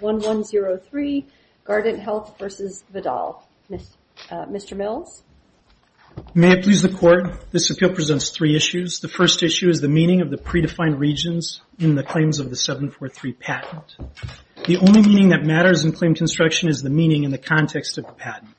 v. Vidal. Mr. Mills? May it please the Court, this appeal presents three issues. The first issue is the meaning of the predefined regions in the claims of the 743 patent. The only meaning that matters in claim construction is the meaning in the context of the patent.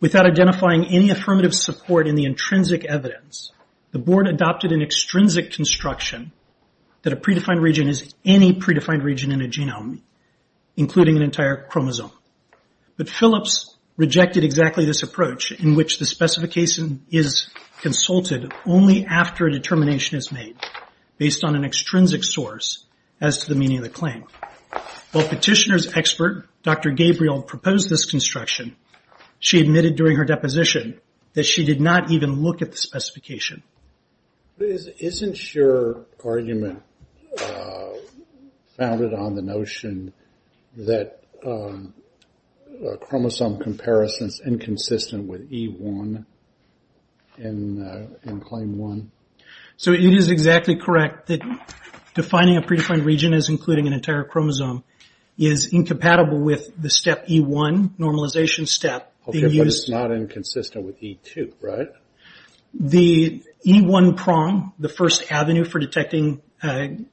Without identifying any affirmative support in the intrinsic evidence, the Board adopted an extrinsic construction that a predefined region is any predefined region in a genome, including an entire chromosome. But Phillips rejected exactly this approach, in which the specification is consulted only after a determination is made, based on an extrinsic source, as to the meaning of the claim. While Petitioner's expert, Dr. Gabriel, proposed this construction, she admitted during her deposition that she did not even look at the specification. But isn't your argument founded on the notion that a chromosome comparison is inconsistent with E1 in claim 1? So it is exactly correct that defining a predefined region as including an entire chromosome is incompatible with the step E1, normalization step, being used But it's not inconsistent with E2, right? The E1 prong, the first avenue for detecting copy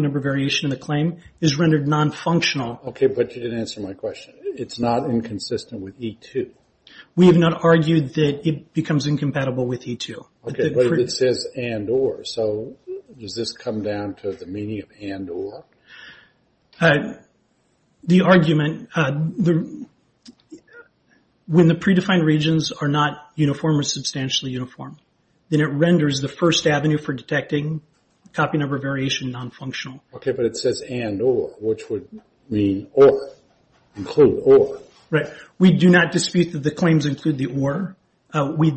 number variation in the claim, is rendered non-functional Okay, but you didn't answer my question. It's not inconsistent with E2? We have not argued that it becomes incompatible with E2. Okay, but it says and or, so does this come down to the meaning of and or? The argument, when the predefined regions are not uniform or substantially uniform, then it renders the first avenue for detecting copy number variation non-functional. Okay, but it says and or, which would mean or, include or? Right. We do not dispute that the claims include the or. We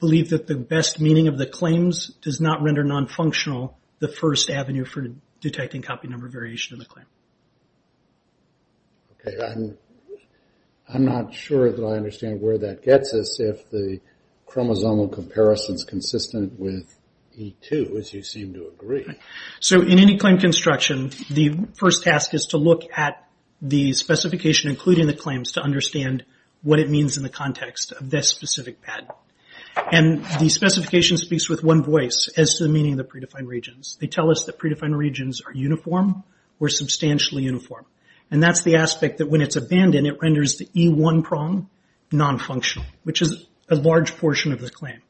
believe that the best meaning of the claims does not render non-functional the first avenue for detecting copy number variation in the claim. Okay, I'm not sure that I understand where that gets us if the chromosomal comparison is consistent with E2, as you seem to agree. So in any claim construction, the first task is to look at the specification including the claims to understand what it means in the context of this specific patent. And the specification speaks with one voice as to the meaning of the predefined regions. They tell us that predefined regions are uniform or substantially uniform. And that's the aspect that when it's abandoned, it renders the E1 prong non-functional, which is a large portion of the claim.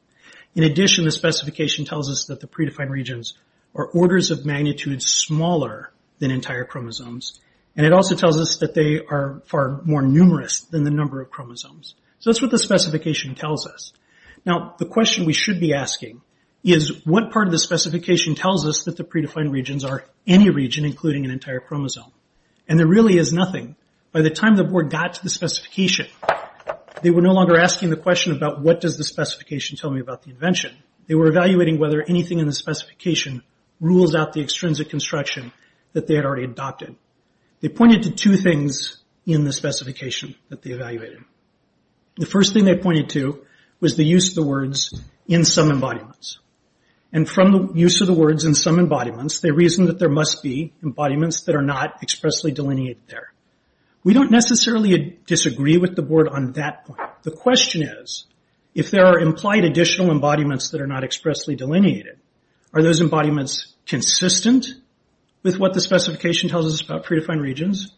In addition, the specification tells us that the predefined regions are orders of magnitude smaller than entire chromosomes. And it also tells us that they are far more numerous than the number of chromosomes. So that's what the specification tells us. Now the question we should be asking is what part of the specification tells us that the predefined regions are any region, including an entire chromosome? And there really is nothing. By the time the board got to the specification, they were no longer asking the question about what does the specification tell me about the invention. They were evaluating whether anything in the specification rules out the extrinsic construction that they had already adopted. They pointed to two things in the specification that they evaluated. The first thing they pointed to was the use of the words in some embodiments. And from the use of the words in some embodiments, they reasoned that there must be embodiments that are not expressly delineated there. We don't necessarily disagree with the board on that point. The question is, if there are implied additional embodiments that are not expressly delineated, are those embodiments consistent with what the specification tells us about predefined regions,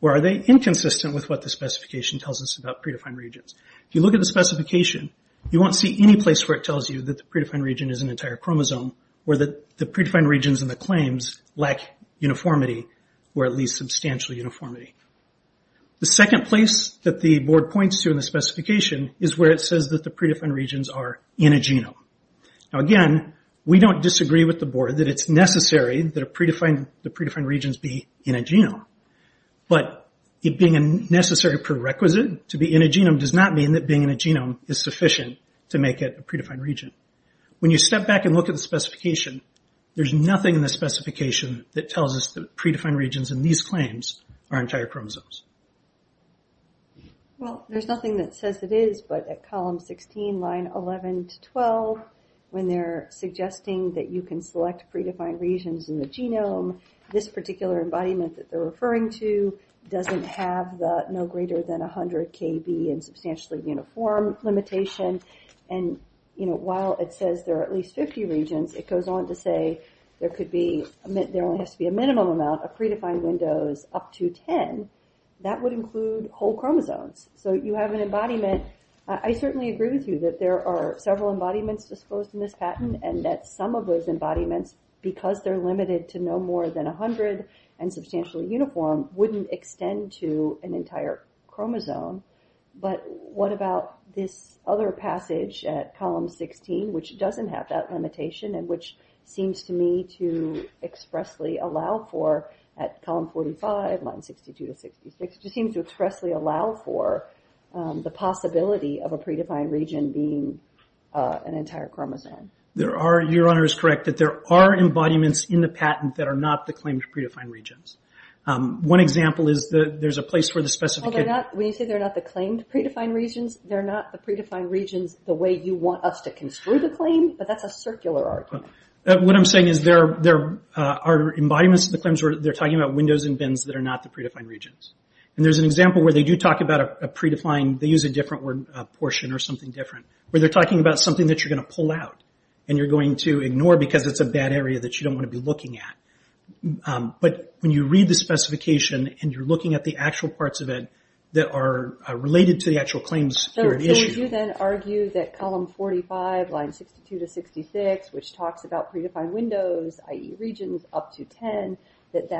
or are they inconsistent with what the specification tells us about predefined regions? If you look at the specification, you won't see any place where it tells you that the predefined region is an entire chromosome, or that the predefined regions and the claims lack uniformity, or at least substantial uniformity. The second place that the board points to in the specification is where it says that the predefined regions are in a genome. Now again, we don't disagree with the board that it's necessary that the predefined regions be in a genome. But it being a necessary prerequisite to be in a genome does not mean that being in a genome is sufficient to make it a predefined region. When you step back and look at the specification, there's nothing in the specification that tells us that predefined regions in these claims are entire chromosomes. Well, there's nothing that says it is, but at column 16, line 11 to 12, when they're suggesting that you can select predefined regions in the genome, this particular embodiment that they're referring to doesn't have the no greater than 100 kb and substantially uniform limitation. And, you know, while it says there are at least 50 regions, it goes on to say there only has to be a minimum amount of predefined windows up to 10. That would include whole chromosomes. So you have an embodiment. I certainly agree with you that there are several embodiments disclosed in this patent and that some of those embodiments, because they're limited to no more than 100 and substantially uniform, wouldn't extend to an entire chromosome. But what about this other passage at column 16, which doesn't have that limitation and which seems to me to expressly allow for, at column 45, line 62 to 66, which seems to expressly allow for the possibility of a predefined region being an entire chromosome? There are, your Honor is correct, that there are embodiments in the patent that are not the claimed predefined regions. One example is that there's a place where the specific... When you say they're not the claimed predefined regions, they're not the predefined regions the way you want us to construe the claim, but that's a circular argument. What I'm saying is there are embodiments of the claims where they're talking about windows and bins that are not the predefined regions. There's an example where they do talk about a predefined, they use a different word, portion or something different, where they're talking about something that you're going to pull out and you're going to ignore because it's a bad area that you don't want to be looking at. But when you read the specification and you're looking at the actual parts of it that are related to the actual claims here at issue... It talks about predefined windows, i.e. regions up to 10, that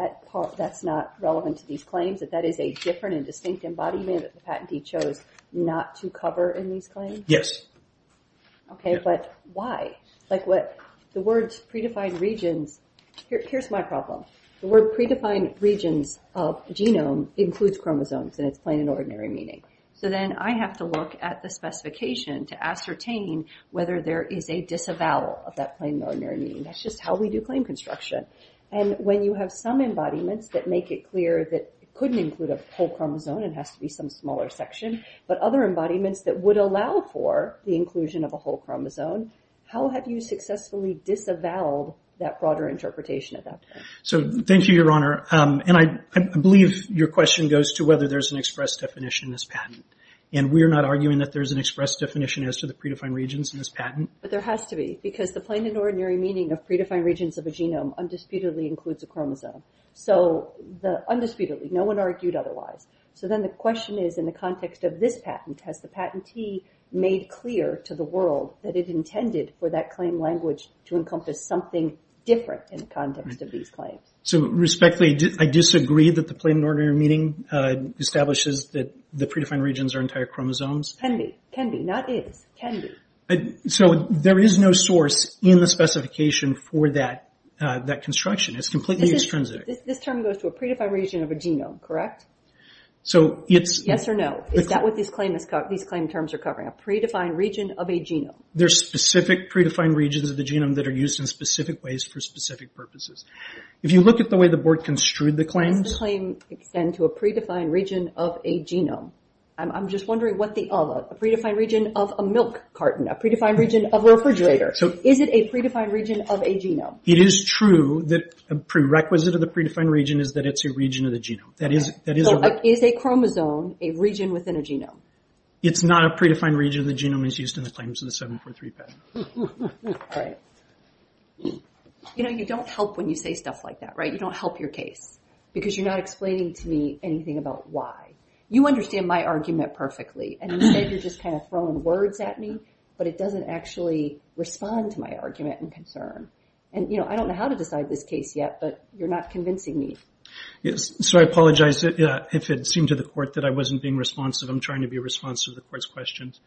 that's not relevant to these claims, that that is a different and distinct embodiment that the patentee chose not to cover in these claims? Yes. Okay, but why? Like what... The words predefined regions... Here's my problem. The word predefined regions of genome includes chromosomes and it's plain and ordinary meaning. So then I have to look at the specification to ascertain whether there is a disavowal of that plain and ordinary meaning. That's just how we do claim construction. And when you have some embodiments that make it clear that it couldn't include a whole chromosome, it has to be some smaller section, but other embodiments that would allow for the inclusion of a whole chromosome, how have you successfully disavowed that broader interpretation at that point? So thank you, Your Honor. And I believe your question goes to whether there's an express definition in this patent. And we're not arguing that there's an express definition as to the predefined regions in this patent. But there has to be, because the plain and ordinary meaning of predefined regions of a genome undisputedly includes a chromosome. So the... Undisputedly. No one argued otherwise. So then the question is, in the context of this patent, has the patentee made clear to the world that it intended for that claim language to encompass something different in the context of these claims? So respectfully, I disagree that the plain and ordinary meaning establishes that the predefined regions are entire chromosomes. Can be. Can be. Not is. Can be. So there is no source in the specification for that construction. It's completely extrinsic. This term goes to a predefined region of a genome, correct? So it's... Yes or no. Is that what these claim terms are covering? A predefined region of a genome. There's specific predefined regions of the genome that are used in specific ways for specific purposes. If you look at the way the board construed the claims... Does the claim extend to a predefined region of a genome? I'm just wondering what the of, a predefined region of a milk carton, a predefined region of a refrigerator. Is it a predefined region of a genome? It is true that a prerequisite of the predefined region is that it's a region of the genome. That is... So is a chromosome a region within a genome? It's not a predefined region of the genome as used in the claims of the 743 patent. Right. You know, you don't help when you say stuff like that, right? You don't help your case because you're not explaining to me anything about why. You understand my argument perfectly, and instead you're just kind of throwing words at me, but it doesn't actually respond to my argument and concern. And you know, I don't know how to decide this case yet, but you're not convincing me. Yes. So I apologize if it seemed to the court that I wasn't being responsive. I'm trying to be responsive to the court's questions.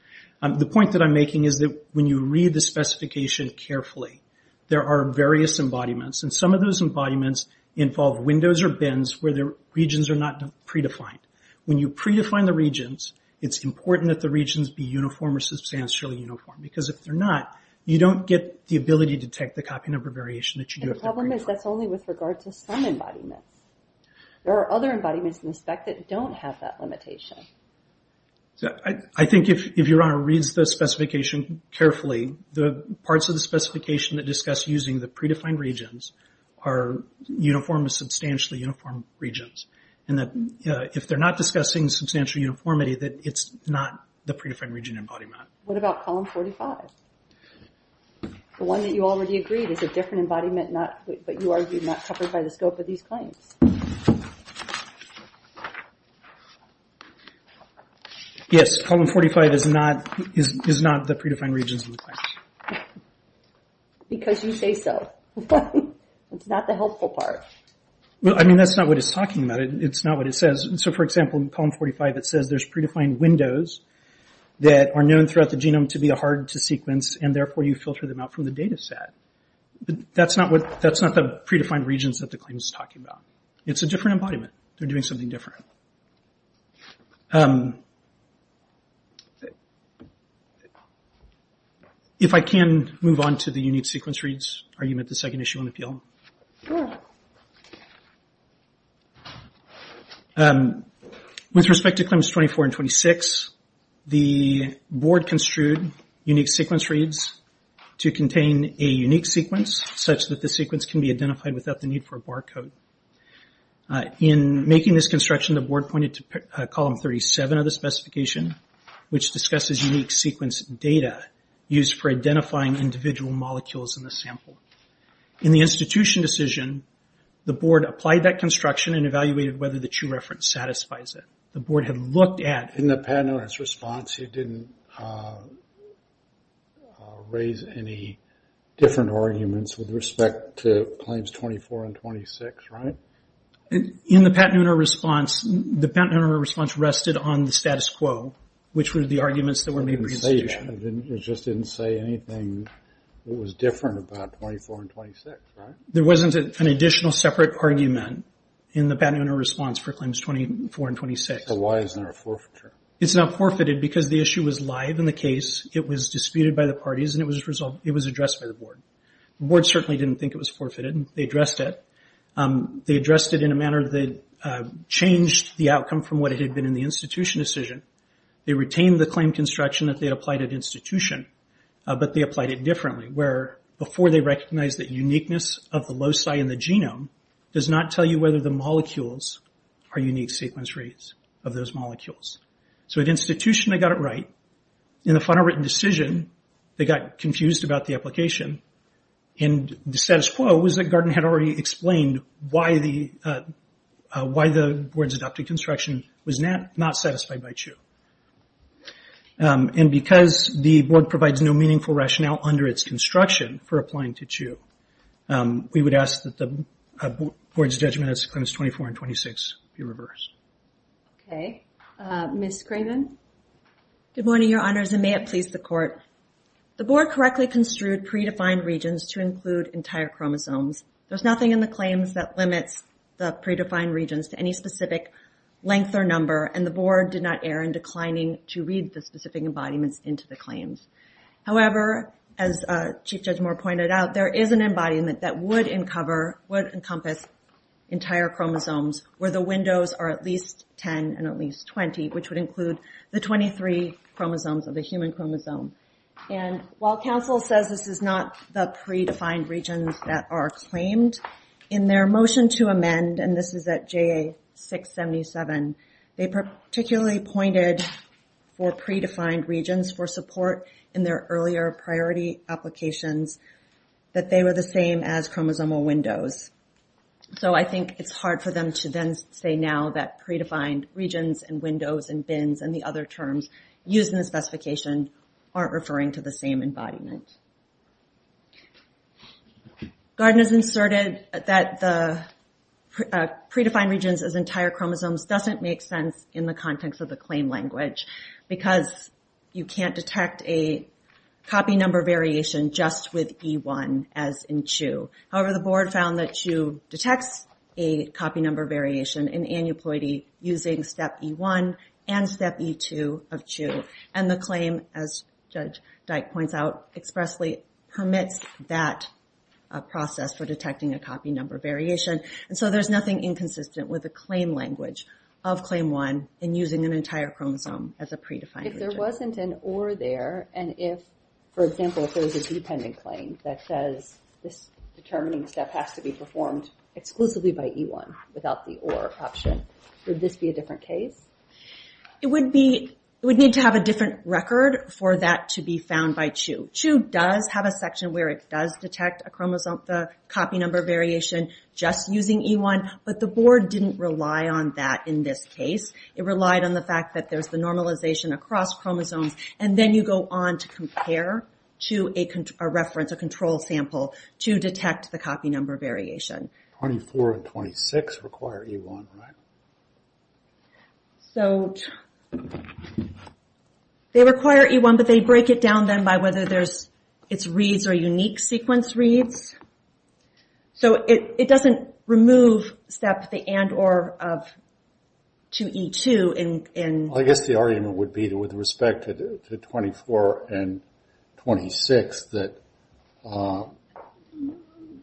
The point that I'm making is that when you read the specification carefully, there are various embodiments, and some of those embodiments involve windows or bins where the regions are not predefined. When you predefine the regions, it's important that the regions be uniform or substantially uniform, because if they're not, you don't get the ability to detect the copy number variation that you do if they're predefined. And the problem is that's only with regard to some embodiments. There are other embodiments in the spec that don't have that limitation. I think if your honor reads the specification carefully, the parts of the specification that discuss using the predefined regions are uniform or substantially uniform regions. And that if they're not discussing substantial uniformity, that it's not the predefined region embodiment. What about Column 45? The one that you already agreed is a different embodiment, but you argue not covered by the scope of these claims. Yes, Column 45 is not the predefined regions in the claims. Because you say so. It's not the helpful part. Well, I mean, that's not what it's talking about. It's not what it says. So for example, in Column 45, it says there's predefined windows that are known throughout the genome to be hard to sequence, and therefore you filter them out from the data set. That's not the predefined regions that the claim is talking about. It's a different embodiment. They're doing something different. Okay. If I can move on to the unique sequence reads, are you at the second issue on appeal? With respect to claims 24 and 26, the board construed unique sequence reads to contain a unique sequence such that the sequence can be identified without the need for a barcode. In making this construction, the board pointed to Column 37 of the specification, which discusses unique sequence data used for identifying individual molecules in the sample. In the institution decision, the board applied that construction and evaluated whether the true reference satisfies it. The board had looked at— In the panel's response, you didn't raise any different arguments with respect to claims 24 and 26, right? In the Pat Nooner response, the Pat Nooner response rested on the status quo, which were the arguments that were made for the institution. It didn't say that. It just didn't say anything that was different about 24 and 26, right? There wasn't an additional separate argument in the Pat Nooner response for claims 24 and 26. So why isn't there a forfeiture? It's not forfeited because the issue was live in the case. It was disputed by the parties, and it was addressed by the board. The board certainly didn't think it was forfeited. They addressed it. They addressed it in a manner that changed the outcome from what it had been in the institution decision. They retained the claim construction that they had applied at institution, but they applied it differently, where before they recognized that uniqueness of the loci in the genome does not tell you whether the molecules are unique sequence rates of those molecules. So at institution, they got it right. In the final written decision, they got confused about the application, and the status quo was that Garten had already explained why the board's adopted construction was not satisfied by CHU. And because the board provides no meaningful rationale under its construction for applying to CHU, we would ask that the board's judgment as to claims 24 and 26 be reversed. Okay. Ms. Craven? Good morning, your honors, and may it please the court. The board correctly construed predefined regions to include entire chromosomes. There's nothing in the claims that limits the predefined regions to any specific length or number, and the board did not err in declining to read the specific embodiments into the claims. However, as Chief Judge Moore pointed out, there is an embodiment that would encompass entire chromosomes where the windows are at least 10 and at least 20, which would include the 23 chromosomes of the human chromosome. And while counsel says this is not the predefined regions that are claimed, in their motion to amend, and this is at JA-677, they particularly pointed for predefined regions for support in their earlier priority applications that they were the same as chromosomal windows. So I think it's hard for them to then say now that predefined regions and windows and the other terms used in the specification aren't referring to the same embodiment. Garden has inserted that the predefined regions as entire chromosomes doesn't make sense in the context of the claim language because you can't detect a copy number variation just with E1 as in CHU. However, the board found that CHU detects a copy number variation in aneuploidy using Step E1 and Step E2 of CHU. And the claim, as Judge Dyke points out, expressly permits that process for detecting a copy number variation. And so there's nothing inconsistent with the claim language of Claim 1 in using an entire chromosome as a predefined region. If there wasn't an or there, and if, for example, if there was a dependent claim that says this determining step has to be performed exclusively by E1 without the or option, would this be a different case? It would need to have a different record for that to be found by CHU. CHU does have a section where it does detect a copy number variation just using E1, but the board didn't rely on that in this case. It relied on the fact that there's the normalization across chromosomes and then you go on to compare to a reference, a control sample, to detect the copy number variation. 24 and 26 require E1, right? So they require E1, but they break it down then by whether there's its reads or unique sequence reads. So it doesn't remove Step the and or of CHU E2 in... I guess the argument would be that with respect to 24 and 26 that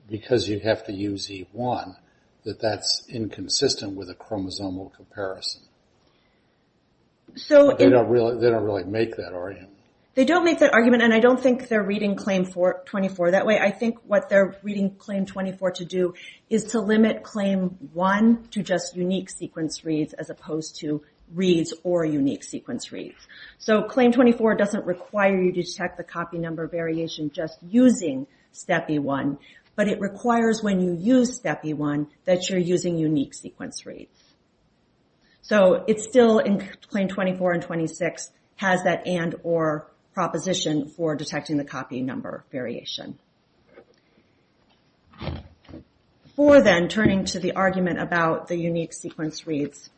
because you'd have to use E1 that that's inconsistent with a chromosomal comparison. They don't really make that argument. They don't make that argument and I don't think they're reading claim 24 that way. I think what they're reading claim 24 to do is to limit claim 1 to just unique sequence reads as opposed to reads or unique sequence reads. So claim 24 doesn't require you to detect the copy number variation just using Step E1, but it requires when you use Step E1 that you're using unique sequence reads. So it's still in claim 24 and 26 has that and or proposition for detecting the copy number variation. Before then turning to the argument about the unique sequence reads,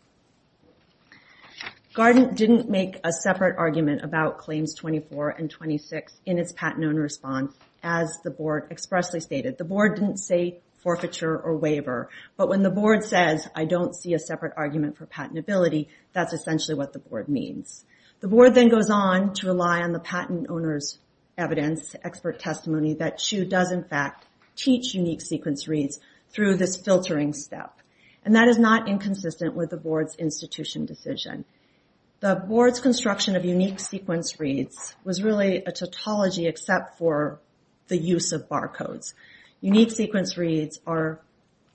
GARDEN didn't make a separate argument about claims 24 and 26 in its patent owner response as the board expressly stated. The board didn't say forfeiture or waiver, but when the board says, I don't see a separate argument for patentability, that's essentially what the board means. The board then goes on to rely on the patent owner's evidence, expert testimony that CHU does in fact teach unique sequence reads through this filtering step. And that is not inconsistent with the board's institution decision. The board's construction of unique sequence reads was really a tautology except for the use of barcodes. Unique sequence reads are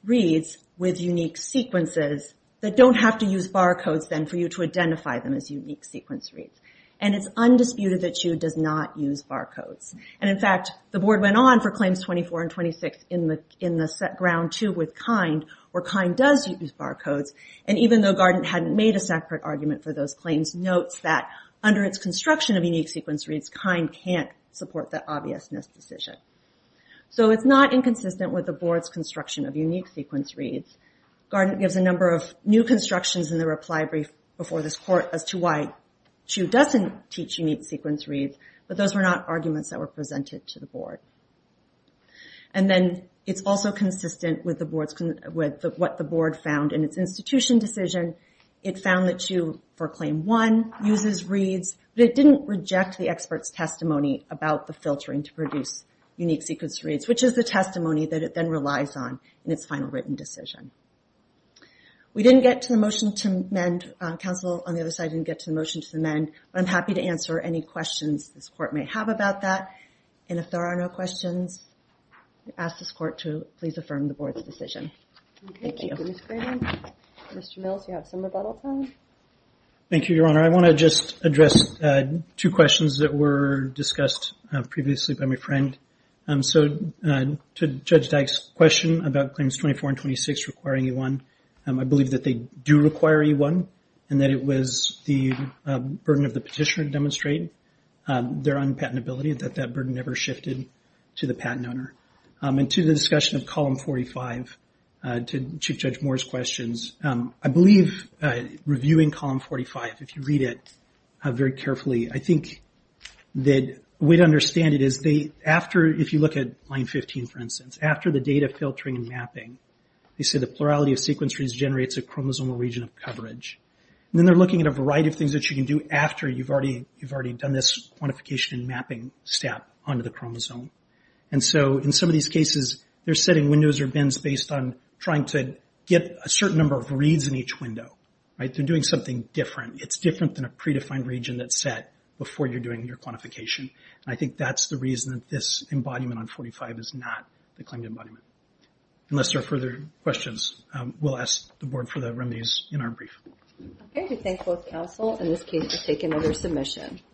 reads with unique sequences that don't have to use barcodes then for you to identify them as unique sequence reads. And it's undisputed that CHU does not use barcodes. And in fact, the board went on for claims 24 and 26 in the set ground two with KIND where KIND does use barcodes. And even though GARDEN hadn't made a separate argument for those claims, notes that under its construction of unique sequence reads, KIND can't support that obviousness decision. So it's not inconsistent with the board's construction of unique sequence reads. GARDEN gives a number of new constructions in the reply brief before this court as to why CHU doesn't teach unique sequence reads, but those were not arguments that were presented to the board. And then it's also consistent with what the board found in its institution decision. It found that CHU for claim one uses reads, but it didn't reject the expert's testimony about the filtering to produce unique sequence reads, which is the testimony that it then relies on in its final written decision. We didn't get to the motion to amend, counsel on the other side didn't get to the motion to amend, but I'm happy to answer any questions this court may have about that. And if there are no questions, I ask this court to please affirm the board's decision. Thank you. Thank you, Ms. Grannon. Mr. Mills, you have some rebuttal time. Thank you, Your Honor. I want to just address two questions that were discussed previously by my friend. So to Judge Dyke's question about claims 24 and 26 requiring E1, I believe that they do require E1, and that it was the burden of the petitioner to demonstrate their unpatentability that that burden never shifted to the patent owner. And to the discussion of column 45, to Chief Judge Moore's questions, I believe reviewing column 45, if you read it very carefully, I think that a way to understand it is, if you look at line 15, for instance, after the data filtering and mapping, they say the plurality of sequence reads generates a chromosomal region of coverage. And then they're looking at a variety of things that you can do after you've already done this quantification and mapping step onto the chromosome. And so in some of these cases, they're setting windows or bins based on trying to get a certain number of reads in each window, right? They're doing something different. It's different than a predefined region that's set before you're doing your quantification. I think that's the reason that this embodiment on 45 is not the claimed embodiment. Unless there are further questions, we'll ask the board for the remedies in our brief. Okay. We thank both counsel. In this case, we'll take another submission.